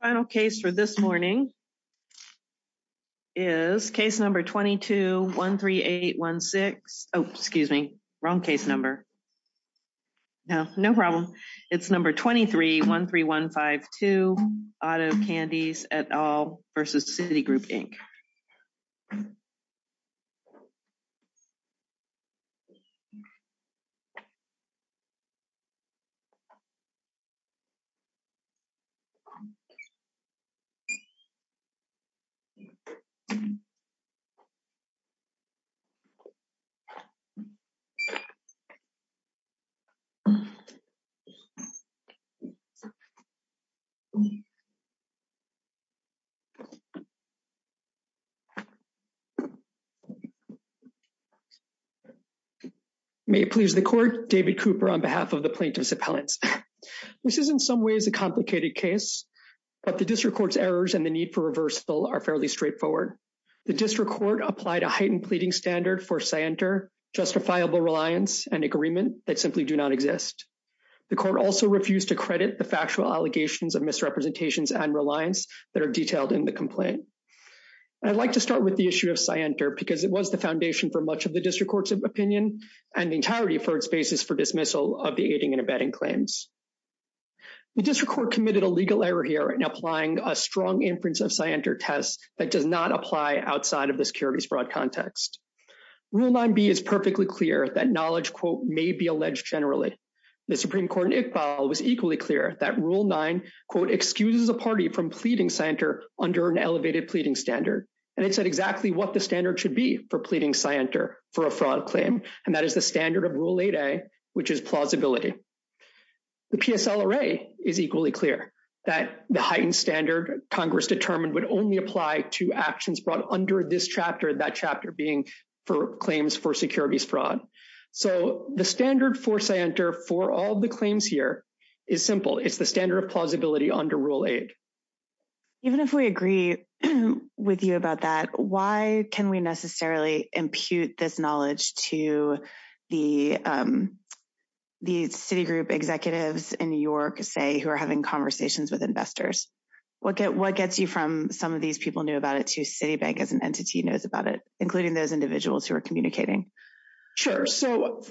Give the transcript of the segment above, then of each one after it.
Final case for this morning is case number 22-13816. Oh, excuse me, wrong case number. No, no problem. It's number 23-13152, Auto Candies, et al. v. Citigroup, Inc. May it please the Court, David Cooper on behalf of the plaintiffs' appellants. This is in some ways a complicated case, but the district court's errors and the need for reversal are fairly straightforward. The district court applied a heightened pleading standard for scienter, justifiable reliance, and agreement that simply do not exist. The court also refused to credit the factual allegations of misrepresentations and reliance that are detailed in the complaint. I'd like to start with the issue of scienter because it was the foundation for much of the district court's opinion and the entirety of the court's basis for dismissal of the aiding and abetting claims. The district court committed a legal error here in applying a strong inference of scienter test that does not apply outside of the securities broad context. Rule 9B is perfectly clear that knowledge, quote, may be alleged generally. The Supreme Court in Iqbal was equally clear that Rule 9, quote, excuses a party from pleading scienter under an elevated pleading standard. And it said exactly what the standard should be for pleading scienter for a fraud claim, and that is the standard of Rule 8A, which is plausibility. The PSL array is equally clear that the heightened standard Congress determined would only apply to actions brought under this chapter, that chapter being for claims for securities fraud. So the standard for scienter for all the claims here is simple. It's the standard of plausibility under Rule 8. Even if we agree with you about that, why can we necessarily impute this knowledge to the city group executives in New York, say, who are having conversations with investors? What gets you from some of these people knew about it to Citibank as an entity knows about it, including those individuals who are communicating? Sure. So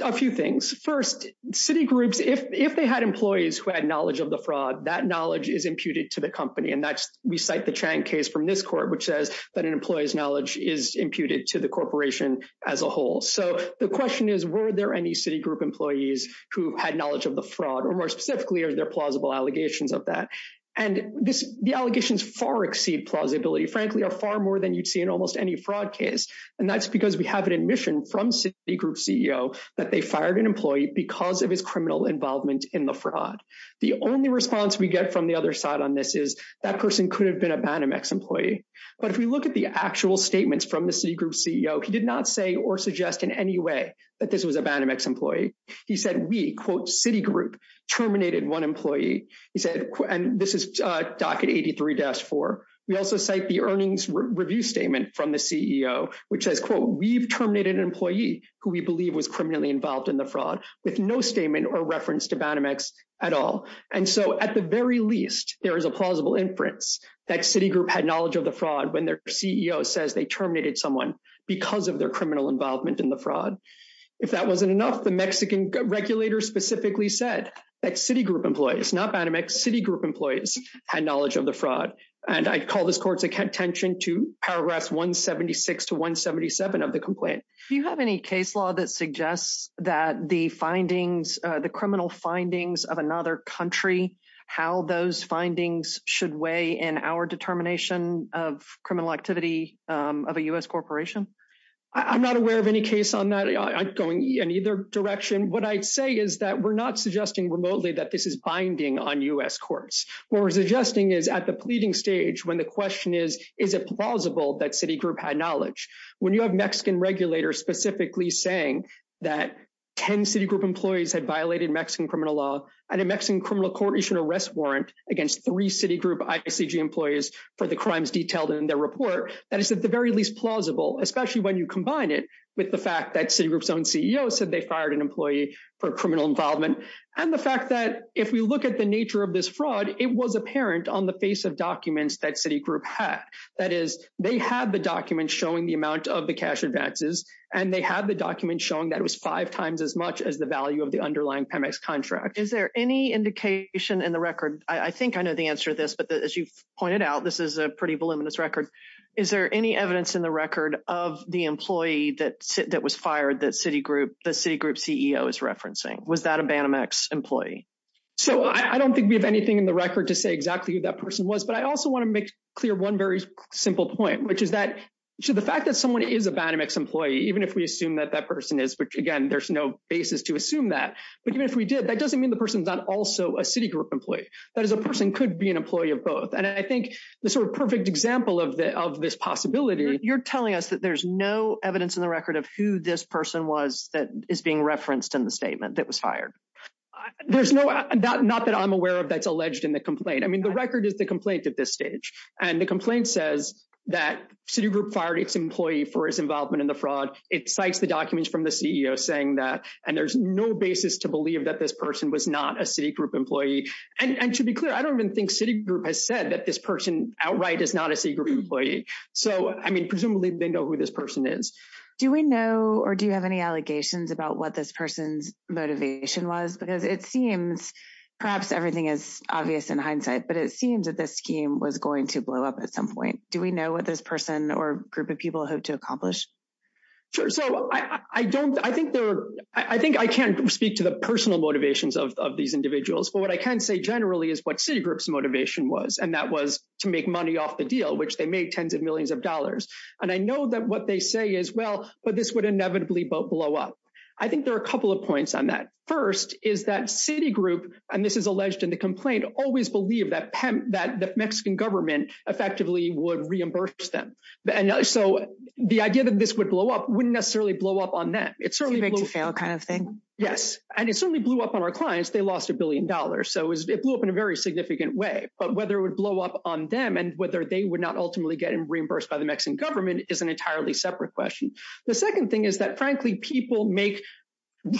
a few things. First, city groups, if they had employees who had knowledge of the fraud, that knowledge is imputed to the company. And that's we cite the Chang case from this court, which says that an employee's knowledge is imputed to the corporation as a whole. So the question is, were there any city group employees who had knowledge of the fraud or more specifically, are there plausible allegations of that? And this the allegations far exceed plausibility, frankly, are far more than you'd see in almost any fraud case. And that's because we have an admission from Citigroup CEO that they fired an employee because of his criminal involvement in the fraud. The only response we get from the other side on this is that person could have been a Banamex employee. But if we look at the actual statements from the Citigroup CEO, he did not say or suggest in any way that this was a Banamex employee. He said we quote Citigroup terminated one employee. He said, and this is docket eighty three dash four. We also cite the earnings review statement from the CEO, which says, quote, we've terminated an employee who we believe was criminally involved in the fraud with no statement or reference to Banamex at all. And so at the very least, there is a plausible inference that Citigroup had knowledge of the fraud when their CEO says they terminated someone because of their criminal involvement in the fraud. If that wasn't enough, the Mexican regulators specifically said that Citigroup employees, not Banamex, Citigroup employees had knowledge of the fraud. And I call this court's attention to paragraphs one seventy six to one seventy seven of the complaint. Do you have any case law that suggests that the findings, the criminal findings of another country, how those findings should weigh in our determination of criminal activity of a U.S. corporation? I'm not aware of any case on that. I'm going in either direction. What I'd say is that we're not suggesting remotely that this is binding on U.S. courts. What we're suggesting is at the pleading stage, when the question is, is it plausible that Citigroup had knowledge? When you have Mexican regulators specifically saying that 10 Citigroup employees had violated Mexican criminal law and a Mexican criminal court issued an arrest warrant against three Citigroup employees for the crimes detailed in their report. That is at the very least plausible, especially when you combine it with the fact that Citigroup's own CEO said they fired an employee for criminal involvement. And the fact that if we look at the nature of this fraud, it was apparent on the face of documents that Citigroup had. That is, they have the documents showing the amount of the cash advances and they have the documents showing that it was five times as much as the value of the underlying Pemex contract. Is there any indication in the record? I think I know the answer to this, but as you've pointed out, this is a pretty voluminous record. Is there any evidence in the record of the employee that that was fired that Citigroup the Citigroup CEO is referencing? Was that a Banamex employee? So I don't think we have anything in the record to say exactly who that person was. But I also want to make clear one very simple point, which is that the fact that someone is a Banamex employee, even if we assume that that person is. But again, there's no basis to assume that. But even if we did, that doesn't mean the person's not also a Citigroup employee. That is, a person could be an employee of both. And I think the sort of perfect example of this possibility. You're telling us that there's no evidence in the record of who this person was that is being referenced in the statement that was fired. There's no not that I'm aware of that's alleged in the complaint. I mean, the record is the complaint at this stage. And the complaint says that Citigroup fired its employee for his involvement in the fraud. It cites the documents from the CEO saying that. And there's no basis to believe that this person was not a Citigroup employee. And to be clear, I don't even think Citigroup has said that this person outright is not a Citigroup employee. So, I mean, presumably they know who this person is. Do we know or do you have any allegations about what this person's motivation was? Because it seems perhaps everything is obvious in hindsight, but it seems that this scheme was going to blow up at some point. Do we know what this person or group of people hope to accomplish? Sure. So, I think I can't speak to the personal motivations of these individuals. But what I can say generally is what Citigroup's motivation was. And that was to make money off the deal, which they made tens of millions of dollars. And I know that what they say is, well, but this would inevitably blow up. I think there are a couple of points on that. First is that Citigroup, and this is alleged in the complaint, always believed that the Mexican government effectively would reimburse them. So, the idea that this would blow up wouldn't necessarily blow up on them. It's a big to fail kind of thing. Yes. And it certainly blew up on our clients. They lost a billion dollars. So, it blew up in a very significant way. But whether it would blow up on them and whether they would not ultimately get reimbursed by the Mexican government is an entirely separate question. The second thing is that, frankly, people make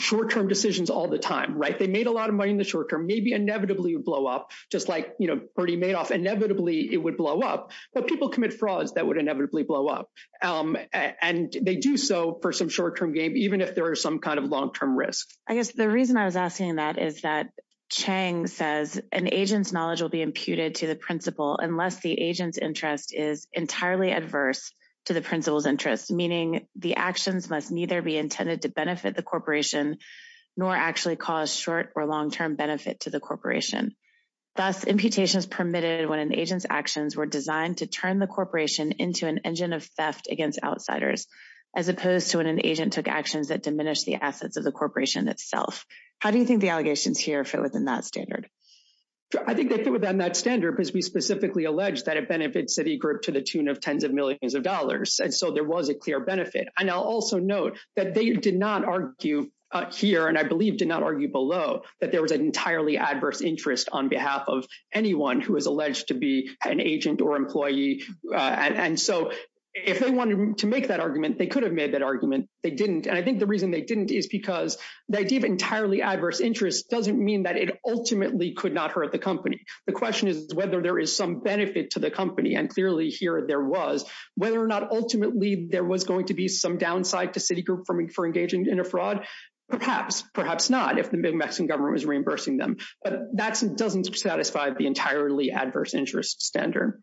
short-term decisions all the time, right? They made a lot of money in the short term. Maybe inevitably it would blow up, just like Bertie Madoff. Inevitably, it would blow up. But people commit frauds that would inevitably blow up. And they do so for some short-term gain, even if there is some kind of long-term risk. I guess the reason I was asking that is that Chang says an agent's knowledge will be imputed to the principal unless the agent's interest is entirely adverse to the principal's interest. Meaning, the actions must neither be intended to benefit the corporation nor actually cause short- or long-term benefit to the corporation. Thus, imputations permitted when an agent's actions were designed to turn the corporation into an engine of theft against outsiders, as opposed to when an agent took actions that diminished the assets of the corporation itself. How do you think the allegations here fit within that standard? I think they fit within that standard because we specifically allege that it benefits Citigroup to the tune of tens of millions of dollars. And so there was a clear benefit. And I'll also note that they did not argue here, and I believe did not argue below, that there was an entirely adverse interest on behalf of anyone who is alleged to be an agent or employee. And so if they wanted to make that argument, they could have made that argument. They didn't. And I think the reason they didn't is because the idea of entirely adverse interest doesn't mean that it ultimately could not hurt the company. The question is whether there is some benefit to the company, and clearly here there was, whether or not ultimately there was going to be some downside to Citigroup for engaging in a fraud. Perhaps, perhaps not, if the Mexican government was reimbursing them. But that doesn't satisfy the entirely adverse interest standard.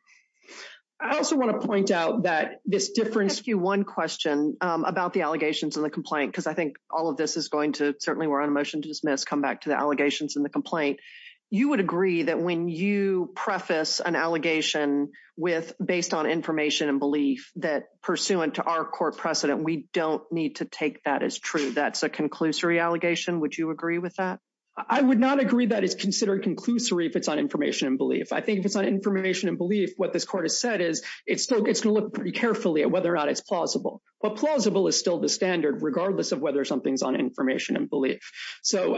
I also want to point out that this difference… Can I ask you one question about the allegations in the complaint? Because I think all of this is going to, certainly we're on a motion to dismiss, come back to the allegations in the complaint. You would agree that when you preface an allegation with, based on information and belief, that pursuant to our court precedent, we don't need to take that as true. That's a conclusory allegation. Would you agree with that? I would not agree that it's considered conclusory if it's on information and belief. I think if it's on information and belief, what this court has said is it's going to look pretty carefully at whether or not it's plausible. But plausible is still the standard, regardless of whether something's on information and belief. So,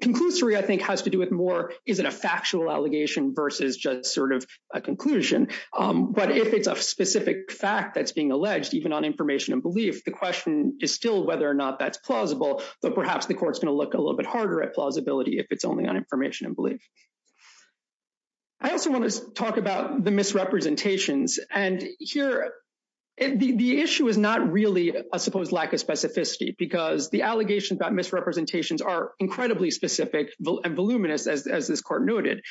conclusory, I think, has to do with more, is it a factual allegation versus just sort of a conclusion? But if it's a specific fact that's being alleged, even on information and belief, the question is still whether or not that's plausible. But perhaps the court's going to look a little bit harder at plausibility if it's only on information and belief. I also want to talk about the misrepresentations. And here, the issue is not really a supposed lack of specificity, because the allegations about misrepresentations are incredibly specific and voluminous, as this court noted.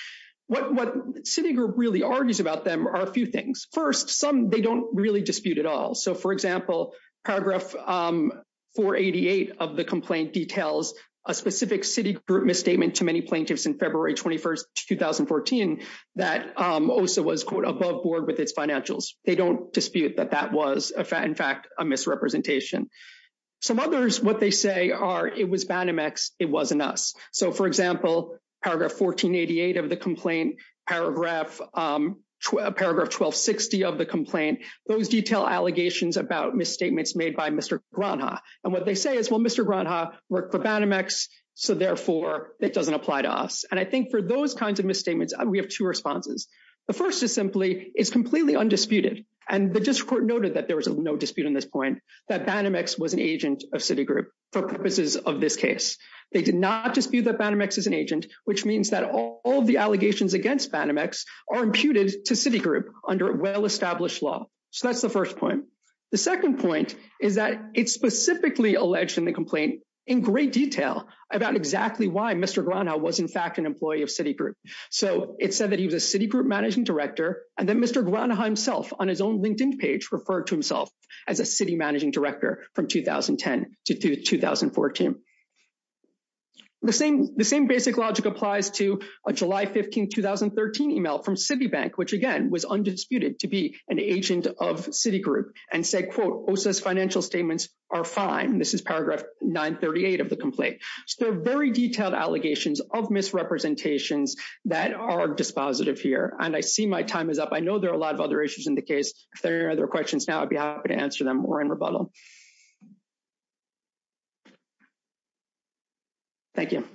What Citigroup really argues about them are a few things. First, some they don't really dispute at all. So, for example, paragraph 488 of the complaint details a specific Citigroup misstatement to many plaintiffs in February 21st, 2014, that OSA was, quote, above board with its financials. They don't dispute that that was, in fact, a misrepresentation. Some others, what they say are, it was Banamex, it wasn't us. So, for example, paragraph 1488 of the complaint, paragraph 1260 of the complaint, those detail allegations about misstatements made by Mr. Granja. And what they say is, well, Mr. Granja worked for Banamex, so, therefore, it doesn't apply to us. And I think for those kinds of misstatements, we have two responses. The first is simply, it's completely undisputed. And the district court noted that there was no dispute on this point, that Banamex was an agent of Citigroup for purposes of this case. They did not dispute that Banamex is an agent, which means that all of the allegations against Banamex are imputed to Citigroup under well-established law. So, that's the first point. The second point is that it's specifically alleged in the complaint in great detail about exactly why Mr. Granja was, in fact, an employee of Citigroup. So, it said that he was a Citigroup managing director, and that Mr. Granja himself, on his own LinkedIn page, referred to himself as a Citigroup managing director from 2010 to 2014. The same basic logic applies to a July 15, 2013 email from Citibank, which, again, was undisputed to be an agent of Citigroup, and said, quote, OSA's financial statements are fine. This is paragraph 938 of the complaint. So, there are very detailed allegations of misrepresentations that are dispositive here, and I see my time is up. I know there are a lot of other issues in the case. If there are any other questions now, I'd be happy to answer them or in rebuttal. Thank you.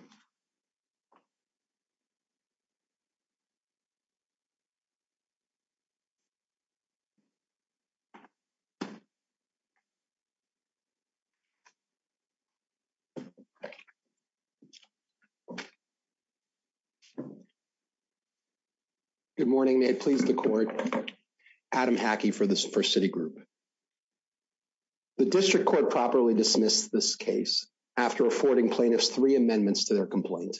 Good morning. May it please the court. Adam Hackey for Citigroup. The district court properly dismissed this case after affording plaintiffs three amendments to their complaint.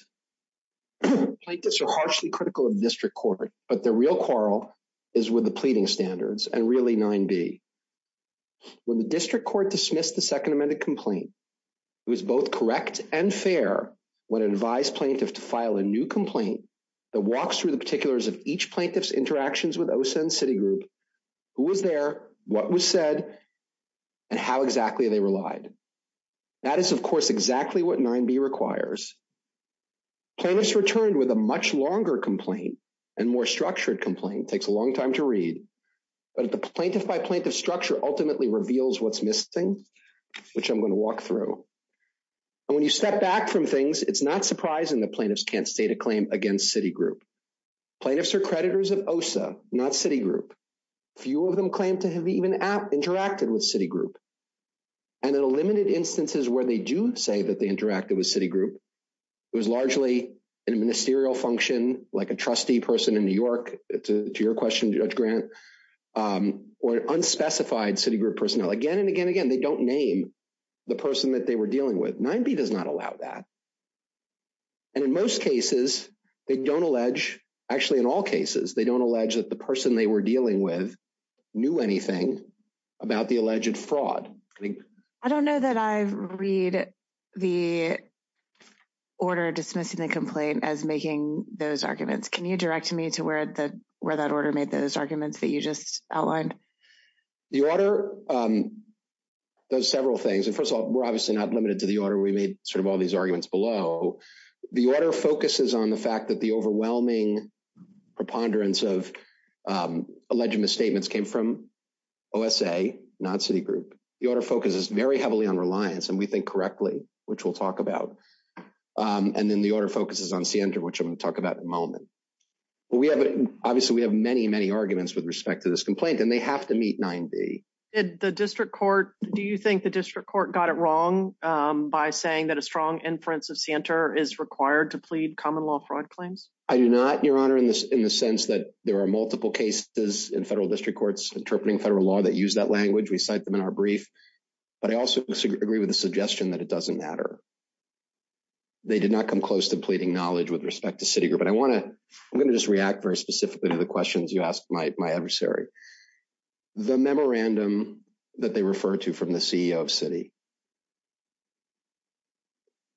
Plaintiffs are harshly critical of district court, but the real quarrel is with the pleading standards, and really 9B. When the district court dismissed the second amended complaint, it was both correct and fair when it advised plaintiff to file a new complaint that walks through the particulars of each plaintiff's interactions with OSA and Citigroup, who was there, what was said, and how exactly they relied. That is, of course, exactly what 9B requires. Plaintiffs returned with a much longer complaint and more structured complaint. It takes a long time to read, but the plaintiff by plaintiff structure ultimately reveals what's missing, which I'm going to walk through. And when you step back from things, it's not surprising that plaintiffs can't state a claim against Citigroup. Plaintiffs are creditors of OSA, not Citigroup. Few of them claim to have even interacted with Citigroup. And in limited instances where they do say that they interacted with Citigroup, it was largely in a ministerial function, like a trustee person in New York, to your question, Judge Grant, or unspecified Citigroup personnel. Again and again and again, they don't name the person that they were dealing with. 9B does not allow that. And in most cases, they don't allege, actually in all cases, they don't allege that the person they were dealing with knew anything about the alleged fraud. I don't know that I read the order dismissing the complaint as making those arguments. Can you direct me to where that order made those arguments that you just outlined? The order does several things. And first of all, we're obviously not limited to the order. We made sort of all these arguments below. The order focuses on the fact that the overwhelming preponderance of alleged misstatements came from OSA, not Citigroup. The order focuses very heavily on reliance, and we think correctly, which we'll talk about. And then the order focuses on Sienta, which I'm going to talk about in a moment. Obviously, we have many, many arguments with respect to this complaint, and they have to meet 9B. Do you think the district court got it wrong by saying that a strong inference of Sienta is required to plead common law fraud claims? I do not, Your Honor, in the sense that there are multiple cases in federal district courts interpreting federal law that use that language. We cite them in our brief. But I also agree with the suggestion that it doesn't matter. They did not come close to pleading knowledge with respect to Citigroup. And I want to – I'm going to just react very specifically to the questions you asked my adversary. The memorandum that they refer to from the CEO of Citi,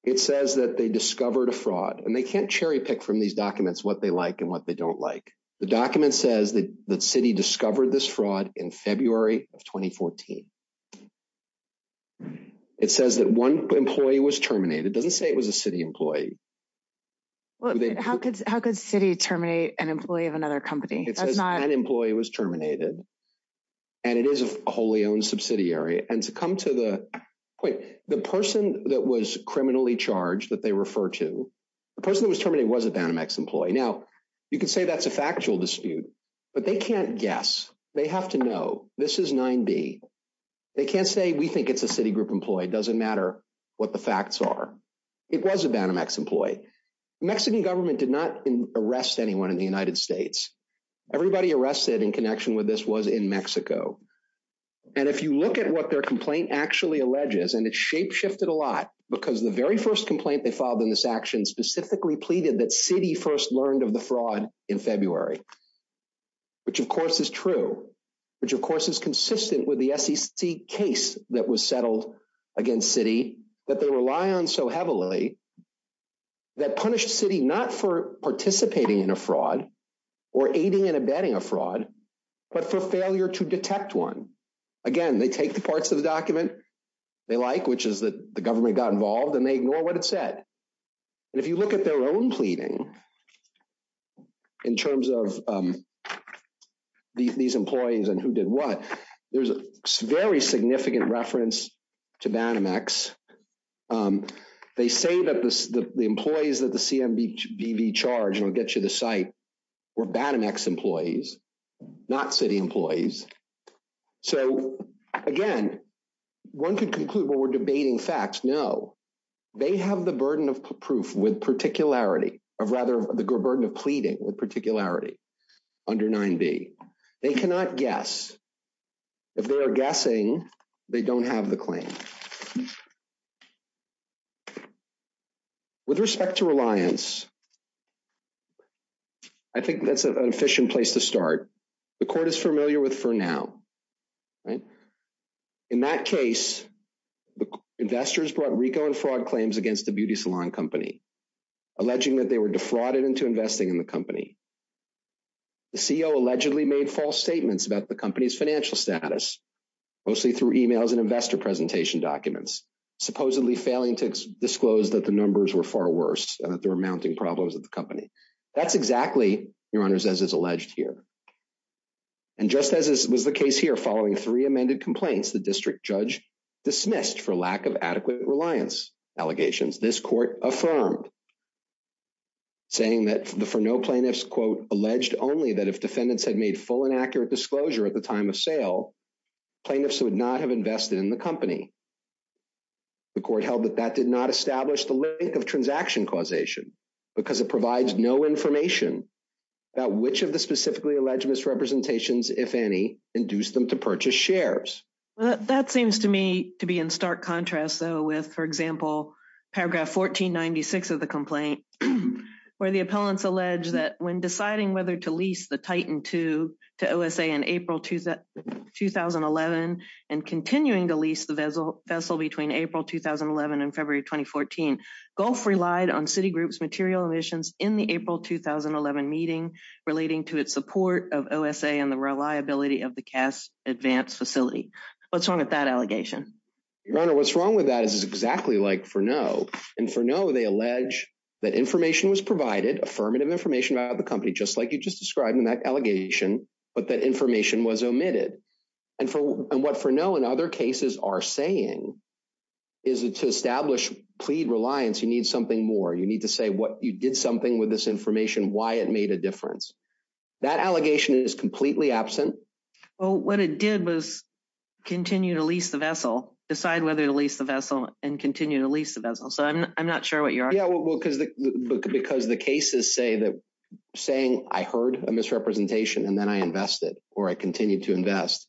it says that they discovered a fraud. And they can't cherry-pick from these documents what they like and what they don't like. The document says that Citi discovered this fraud in February of 2014. It says that one employee was terminated. It doesn't say it was a Citi employee. How could Citi terminate an employee of another company? It says an employee was terminated. And it is a wholly owned subsidiary. And to come to the point, the person that was criminally charged that they refer to, the person that was terminated was a Banamex employee. Now, you could say that's a factual dispute. But they can't guess. They have to know. This is 9B. They can't say we think it's a Citigroup employee. It doesn't matter what the facts are. It was a Banamex employee. The Mexican government did not arrest anyone in the United States. Everybody arrested in connection with this was in Mexico. And if you look at what their complaint actually alleges, and it's shapeshifted a lot because the very first complaint they filed in this action specifically pleaded that Citi first learned of the fraud in February, which, of course, is true, which, of course, is consistent with the SEC case that was settled against Citi that they rely on so heavily. That punished Citi not for participating in a fraud or aiding and abetting a fraud, but for failure to detect one. Again, they take the parts of the document they like, which is that the government got involved, and they ignore what it said. And if you look at their own pleading, in terms of these employees and who did what, there's a very significant reference to Banamex. They say that the employees that the CMB charged, and I'll get you the site, were Banamex employees, not Citi employees. So, again, one could conclude what we're debating facts. No, they have the burden of proof with particularity, or rather, the burden of pleading with particularity under 9B. They cannot guess. If they are guessing, they don't have the claim. With respect to reliance, I think that's an efficient place to start. The court is familiar with Furnow. In that case, investors brought RICO and fraud claims against the beauty salon company, alleging that they were defrauded into investing in the company. The CEO allegedly made false statements about the company's financial status, mostly through emails and investor presentation documents, supposedly failing to disclose that the numbers were far worse and that there were mounting problems at the company. That's exactly, Your Honors, as is alleged here. And just as was the case here, following three amended complaints, the district judge dismissed for lack of adequate reliance allegations. This court affirmed, saying that the Furnow plaintiffs, quote, alleged only that if defendants had made full and accurate disclosure at the time of sale, plaintiffs would not have invested in the company. The court held that that did not establish the link of transaction causation, because it provides no information about which of the specifically alleged misrepresentations, if any, induced them to purchase shares. That seems to me to be in stark contrast, though, with, for example, paragraph 1496 of the complaint, where the appellants allege that when deciding whether to lease the Titan II to OSA in April 2011 and continuing to lease the vessel between April 2011 and February 2014, Gulf relied on Citigroup's material emissions in the April 2011 meeting relating to its support of OSA and the reliability of the Cass Advance facility. What's wrong with that allegation? Your Honor, what's wrong with that is exactly like Furnow. In Furnow, they allege that information was provided, affirmative information about the company, just like you just described in that allegation, but that information was omitted. And what Furnow and other cases are saying is that to establish plead reliance, you need something more. You need to say what you did something with this information, why it made a difference. That allegation is completely absent. Well, what it did was continue to lease the vessel, decide whether to lease the vessel and continue to lease the vessel. So I'm not sure what you're arguing. Yeah, well, because the cases say that saying I heard a misrepresentation and then I invested or I continued to invest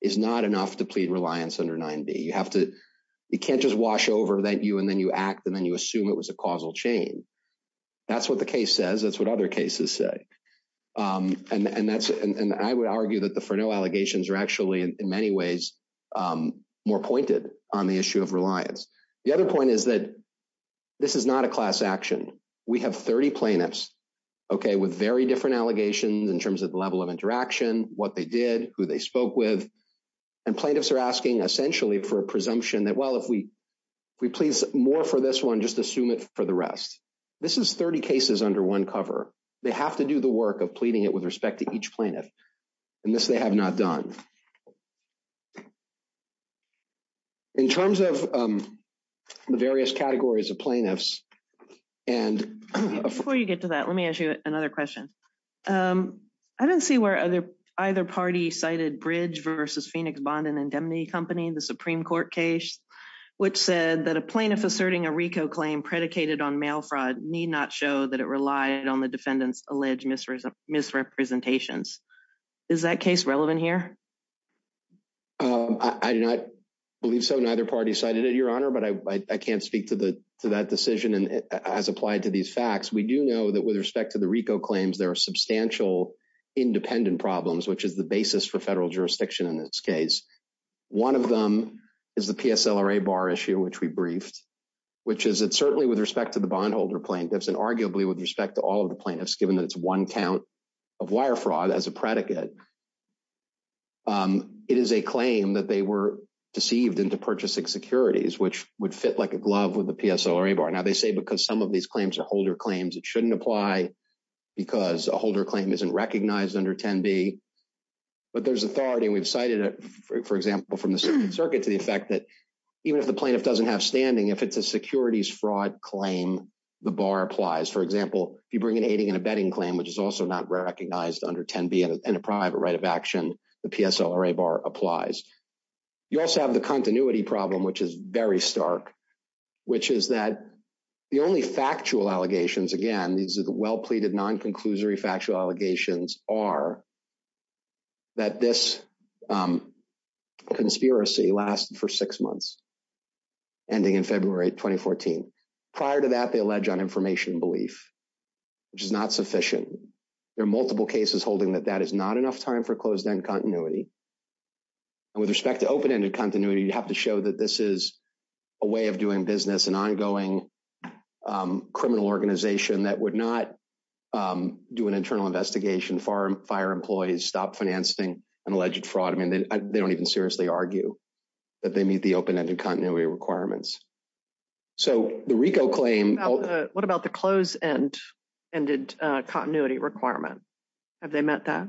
is not enough to plead reliance under 9b. You have to, you can't just wash over that you and then you act and then you assume it was a causal chain. That's what the case says. That's what other cases say. And that's and I would argue that the Furnow allegations are actually in many ways more pointed on the issue of reliance. The other point is that this is not a class action. We have 30 plaintiffs, OK, with very different allegations in terms of the level of interaction, what they did, who they spoke with. And plaintiffs are asking essentially for a presumption that, well, if we please more for this one, just assume it for the rest. This is 30 cases under one cover. They have to do the work of pleading it with respect to each plaintiff. And this they have not done. In terms of the various categories of plaintiffs and before you get to that, let me ask you another question. I don't see where other either party cited Bridge versus Phoenix Bond and Indemnity Company, the Supreme Court case which said that a plaintiff asserting a RICO claim predicated on mail fraud need not show that it relied on the defendants alleged misrepresentations. Is that case relevant here? I do not believe so. Neither party cited it, Your Honor, but I can't speak to the to that decision as applied to these facts. We do know that with respect to the RICO claims, there are substantial independent problems, which is the basis for federal jurisdiction in this case. One of them is the PSLRA bar issue, which we briefed, which is certainly with respect to the bondholder plaintiffs and arguably with respect to all of the plaintiffs, given that it's one count of wire fraud as a predicate. It is a claim that they were deceived into purchasing securities, which would fit like a glove with the PSLRA bar. Now, they say because some of these claims are holder claims, it shouldn't apply because a holder claim isn't recognized under 10B. But there's authority, and we've cited it, for example, from the circuit to the effect that even if the plaintiff doesn't have standing, if it's a securities fraud claim, the bar applies. For example, if you bring an aiding and abetting claim, which is also not recognized under 10B and a private right of action, the PSLRA bar applies. You also have the continuity problem, which is very stark, which is that the only factual allegations, again, these are the well-pleaded non-conclusory factual allegations, are that this conspiracy lasted for six months, ending in February 2014. Prior to that, they allege uninformation belief, which is not sufficient. There are multiple cases holding that that is not enough time for closed-end continuity. And with respect to open-ended continuity, you have to show that this is a way of doing business, an ongoing criminal organization that would not do an internal investigation, fire employees, stop financing an alleged fraud. I mean, they don't even seriously argue that they meet the open-ended continuity requirements. What about the closed-ended continuity requirement? Have they met that?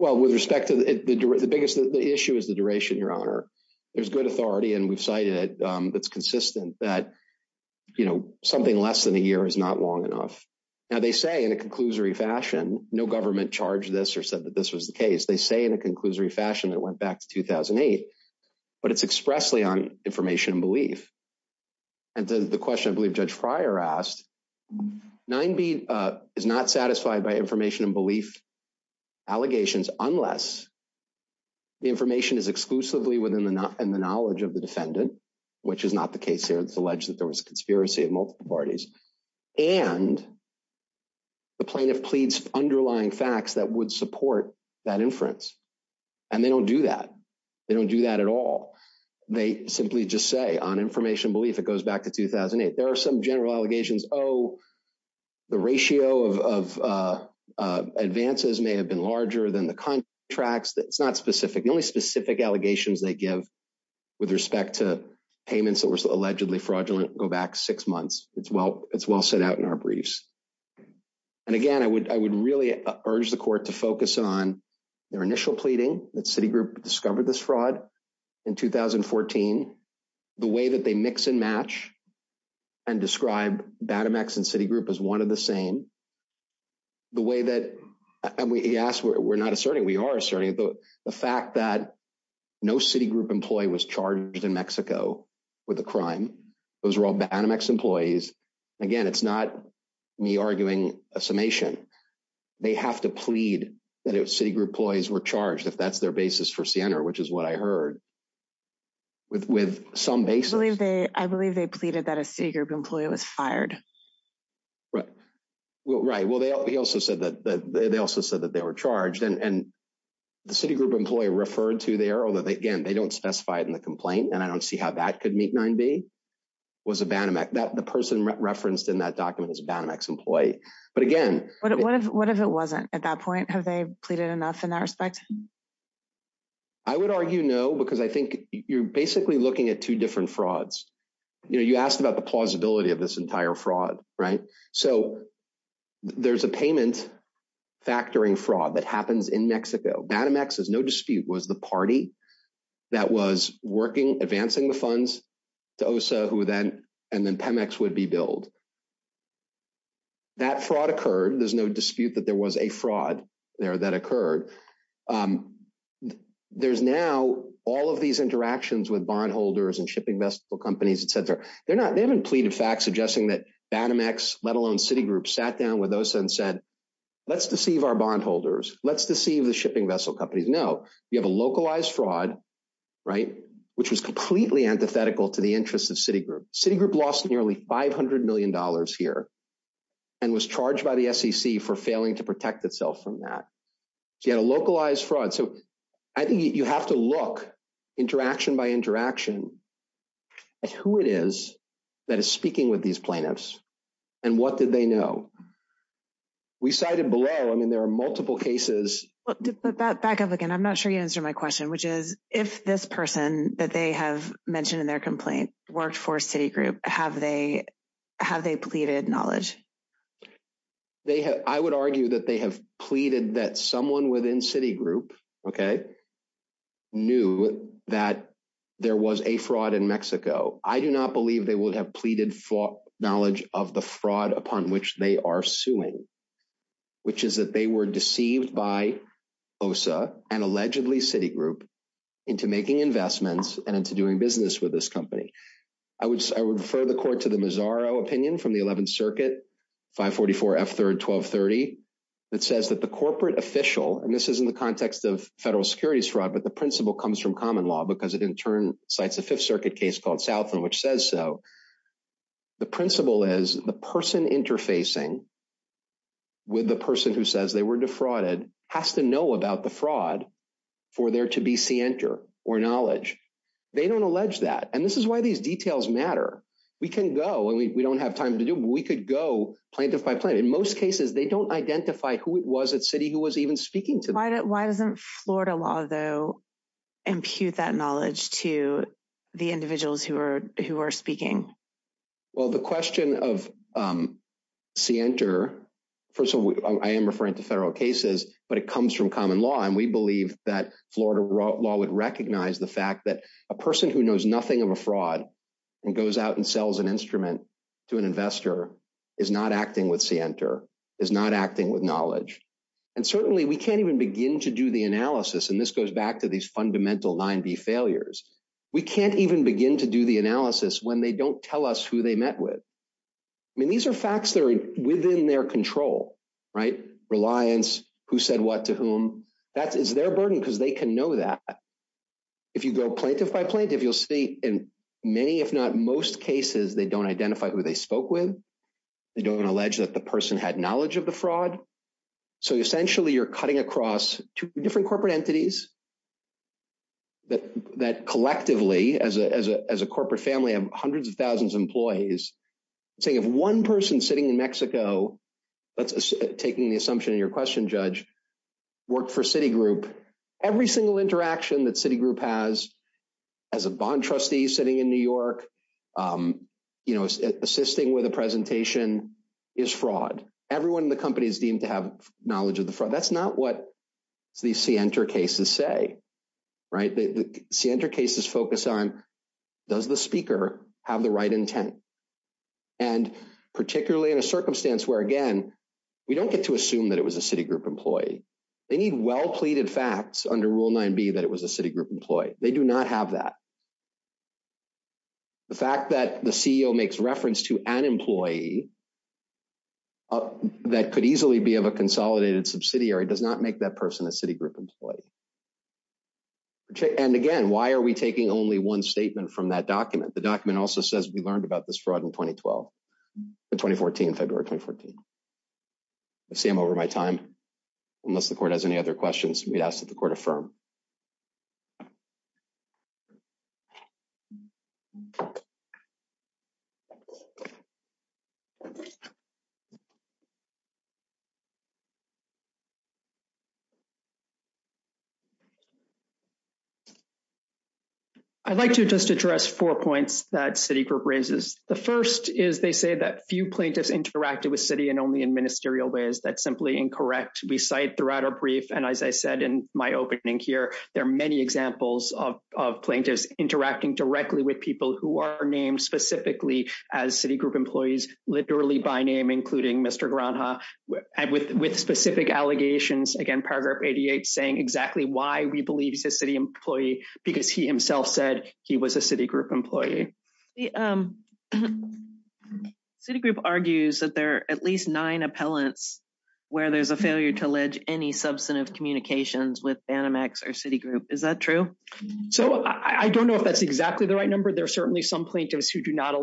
Well, with respect to it, the issue is the duration, Your Honor. There's good authority, and we've cited it. It's consistent that something less than a year is not long enough. Now, they say in a conclusory fashion, no government charged this or said that this was the case. They say in a conclusory fashion that it went back to 2008, but it's expressly on information and belief. And to the question I believe Judge Fryer asked, 9B is not satisfied by information and belief allegations unless the information is exclusively within the knowledge of the defendant, which is not the case here. It's alleged that there was a conspiracy of multiple parties. And the plaintiff pleads underlying facts that would support that inference, and they don't do that. They don't do that at all. They simply just say, on information and belief, it goes back to 2008. There are some general allegations, oh, the ratio of advances may have been larger than the contracts. It's not specific. The only specific allegations they give with respect to payments that were allegedly fraudulent go back six months. It's well set out in our briefs. And again, I would really urge the court to focus on their initial pleading that Citigroup discovered this fraud in 2014, the way that they mix and match and describe BADMX and Citigroup as one of the same, the way that, and he asked, we're not asserting, we are asserting the fact that no Citigroup employee was charged in Mexico with a crime. Those were all BADMX employees. Again, it's not me arguing a summation. They have to plead that Citigroup employees were charged, if that's their basis for Siena, which is what I heard, with some basis. I believe they pleaded that a Citigroup employee was fired. Right. Well, right. Well, they also said that they also said that they were charged. And the Citigroup employee referred to there, although, again, they don't specify it in the complaint. And I don't see how that could meet 9B, was a BADMX. The person referenced in that document is a BADMX employee. But again. What if it wasn't at that point? Have they pleaded enough in that respect? I would argue no, because I think you're basically looking at two different frauds. You know, you asked about the plausibility of this entire fraud. Right. So there's a payment factoring fraud that happens in Mexico. BADMX, there's no dispute, was the party that was working, advancing the funds to OSA and then PEMEX would be billed. That fraud occurred. There's no dispute that there was a fraud there that occurred. There's now all of these interactions with bondholders and shipping vessel companies, et cetera. They're not they haven't pleaded facts suggesting that BADMX, let alone Citigroup, sat down with OSA and said, let's deceive our bondholders. Let's deceive the shipping vessel companies. No, you have a localized fraud. Right. Which was completely antithetical to the interests of Citigroup. Citigroup lost nearly 500 million dollars here. And was charged by the SEC for failing to protect itself from that. So you had a localized fraud. So I think you have to look, interaction by interaction, at who it is that is speaking with these plaintiffs. And what did they know? We cited below. I mean, there are multiple cases. Back up again. I'm not sure you answered my question, which is if this person that they have mentioned in their complaint worked for Citigroup, have they have they pleaded knowledge? They have. I would argue that they have pleaded that someone within Citigroup knew that there was a fraud in Mexico. I do not believe they would have pleaded for knowledge of the fraud upon which they are suing, which is that they were deceived by OSA and allegedly Citigroup into making investments and into doing business with this company. I would refer the court to the Mazzaro opinion from the 11th Circuit, 544 F3rd 1230. It says that the corporate official, and this is in the context of federal securities fraud, but the principle comes from common law because it in turn cites a Fifth Circuit case called Southland, which says so. The principle is the person interfacing with the person who says they were defrauded has to know about the fraud for there to be scienter or knowledge. They don't allege that. And this is why these details matter. We can go and we don't have time to do. We could go plaintiff by plaintiff. In most cases, they don't identify who it was that city who was even speaking to. Why doesn't Florida law, though, impute that knowledge to the individuals who are who are speaking? Well, the question of scienter, first of all, I am referring to federal cases, but it comes from common law. And we believe that Florida law would recognize the fact that a person who knows nothing of a fraud and goes out and sells an instrument to an investor is not acting with scienter, is not acting with knowledge. And certainly we can't even begin to do the analysis. And this goes back to these fundamental nine B failures. We can't even begin to do the analysis when they don't tell us who they met with. I mean, these are facts that are within their control. Right. Reliance. Who said what to whom? That is their burden because they can know that. If you go plaintiff by plaintiff, you'll see in many, if not most cases, they don't identify who they spoke with. They don't allege that the person had knowledge of the fraud. So essentially, you're cutting across two different corporate entities. That collectively, as a as a as a corporate family of hundreds of thousands of employees, saying if one person sitting in Mexico that's taking the assumption in your question, judge, work for Citigroup, every single interaction that Citigroup has as a bond trustee sitting in New York, you know, assisting with a presentation is fraud. Everyone in the company is deemed to have knowledge of the fraud. That's not what the center cases say. Right. The center cases focus on does the speaker have the right intent? And particularly in a circumstance where, again, we don't get to assume that it was a Citigroup employee. They need well pleaded facts under Rule 9B that it was a Citigroup employee. They do not have that. The fact that the CEO makes reference to an employee. That could easily be of a consolidated subsidiary does not make that person a Citigroup employee. And again, why are we taking only one statement from that document? The document also says we learned about this fraud in 2012, 2014, February 2014. Sam, over my time, unless the court has any other questions, we'd ask that the court affirm. I'd like to just address four points that Citigroup raises. The first is they say that few plaintiffs interacted with city and only in ministerial ways. That's simply incorrect. We cite throughout our brief. And as I said in my opening here, there are many examples of plaintiffs interacting directly with people who are named specifically as Citigroup employees, literally by name, including Mr. And with with specific allegations, again, paragraph 88 saying exactly why we believe he's a city employee, because he himself said he was a Citigroup employee. The Citigroup argues that there are at least nine appellants where there's a failure to allege any substantive communications with Banamex or Citigroup. Is that true? So I don't know if that's exactly the right number. There are certainly some plaintiffs who do not.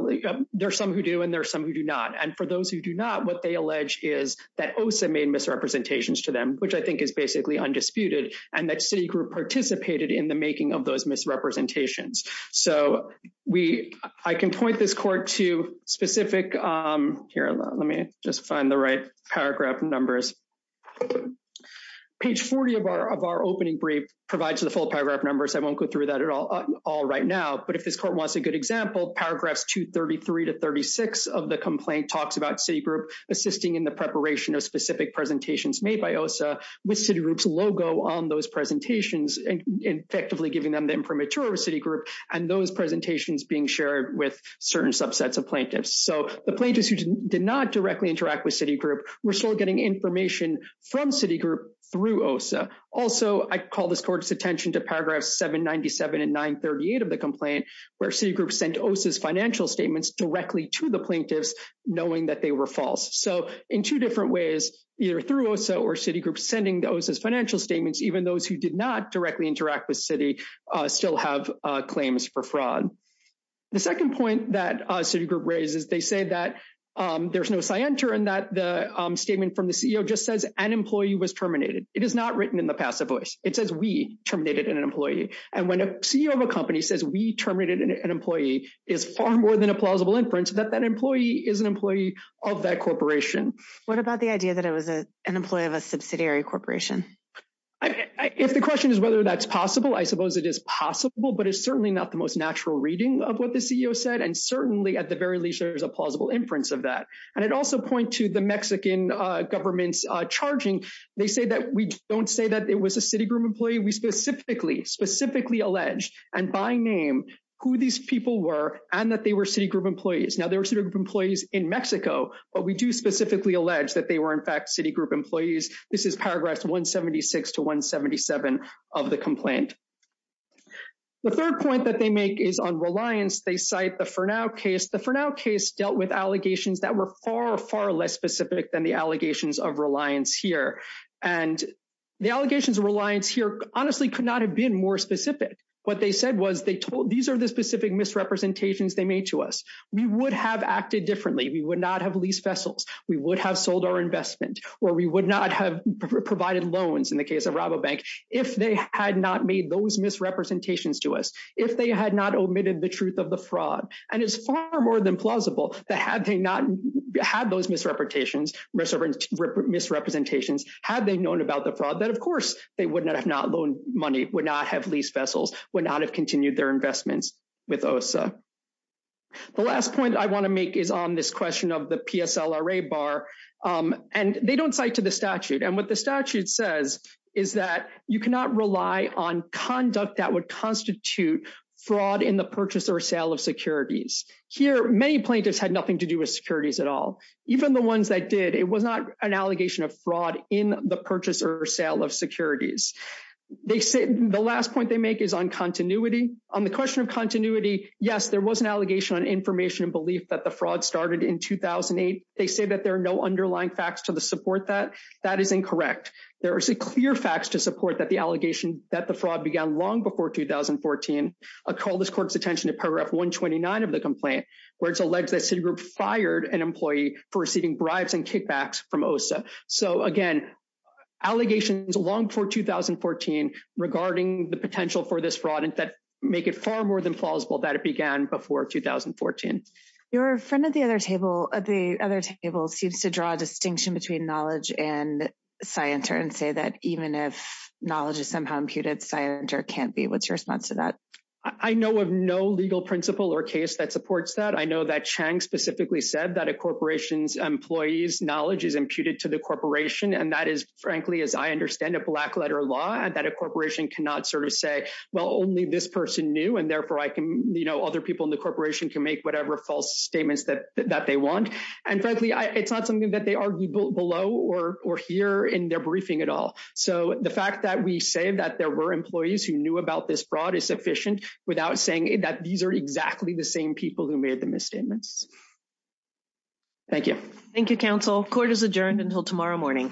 There are some who do and there are some who do not. And for those who do not, what they allege is that Osa made misrepresentations to them, which I think is basically undisputed. And that Citigroup participated in the making of those misrepresentations. So we I can point this court to specific here. Let me just find the right paragraph numbers. Page 40 of our of our opening brief provides the full paragraph numbers. I won't go through that at all right now. But if this court wants a good example, paragraphs 233 to 36 of the complaint talks about Citigroup assisting in the preparation of specific presentations made by Osa with Citigroup's logo on those presentations and effectively giving them the information of Citigroup and those presentations being shared with certain subsets of plaintiffs. So the plaintiffs who did not directly interact with Citigroup were still getting information from Citigroup through Osa. Also, I call this court's attention to paragraphs 797 and 938 of the complaint, where Citigroup sent Osa's financial statements directly to the plaintiffs, knowing that they were false. So in two different ways, either through Osa or Citigroup sending those as financial statements, even those who did not directly interact with Citigroup still have claims for fraud. The second point that Citigroup raises, they say that there's no scienter and that the statement from the CEO just says an employee was terminated. It is not written in the passive voice. It says we terminated an employee. And when a CEO of a company says we terminated an employee is far more than a plausible inference that that employee is an employee of that corporation. What about the idea that it was an employee of a subsidiary corporation? If the question is whether that's possible, I suppose it is possible, but it's certainly not the most natural reading of what the CEO said. And certainly, at the very least, there's a plausible inference of that. And I'd also point to the Mexican government's charging. They say that we don't say that it was a Citigroup employee. We specifically, specifically allege, and by name, who these people were and that they were Citigroup employees. Now, they were Citigroup employees in Mexico, but we do specifically allege that they were, in fact, Citigroup employees. This is Paragraphs 176 to 177 of the complaint. The third point that they make is on reliance. They cite the Fernow case. The Fernow case dealt with allegations that were far, far less specific than the allegations of reliance here. And the allegations of reliance here honestly could not have been more specific. What they said was they told these are the specific misrepresentations they made to us. We would have acted differently. We would not have leased vessels. We would have sold our investment, or we would not have provided loans in the case of Rabobank if they had not made those misrepresentations to us, if they had not omitted the truth of the fraud. And it's far more than plausible that had they not had those misrepresentations, had they known about the fraud, that, of course, they would not have not loaned money, would not have leased vessels, would not have continued their investments with OSA. The last point I want to make is on this question of the PSLRA bar. And they don't cite to the statute. And what the statute says is that you cannot rely on conduct that would constitute fraud in the purchase or sale of securities. Here, many plaintiffs had nothing to do with securities at all. Even the ones that did, it was not an allegation of fraud in the purchase or sale of securities. The last point they make is on continuity. On the question of continuity, yes, there was an allegation on information and belief that the fraud started in 2008. They say that there are no underlying facts to support that. That is incorrect. There are clear facts to support that the allegation that the fraud began long before 2014. I call this court's attention to paragraph 129 of the complaint, where it's alleged that Citigroup fired an employee for receiving bribes and kickbacks from OSA. So, again, allegations long before 2014 regarding the potential for this fraud make it far more than plausible that it began before 2014. Your friend at the other table seems to draw a distinction between knowledge and scienter and say that even if knowledge is somehow imputed, scienter can't be. What's your response to that? I know of no legal principle or case that supports that. I know that Chang specifically said that a corporation's employee's knowledge is imputed to the corporation. And that is, frankly, as I understand it, black letter law and that a corporation cannot sort of say, well, only this person knew. And therefore, I can, you know, other people in the corporation can make whatever false statements that they want. And frankly, it's not something that they argued below or here in their briefing at all. So the fact that we say that there were employees who knew about this fraud is sufficient without saying that these are exactly the same people who made the misstatements. Thank you. Thank you, counsel. Court is adjourned until tomorrow morning. Thank you.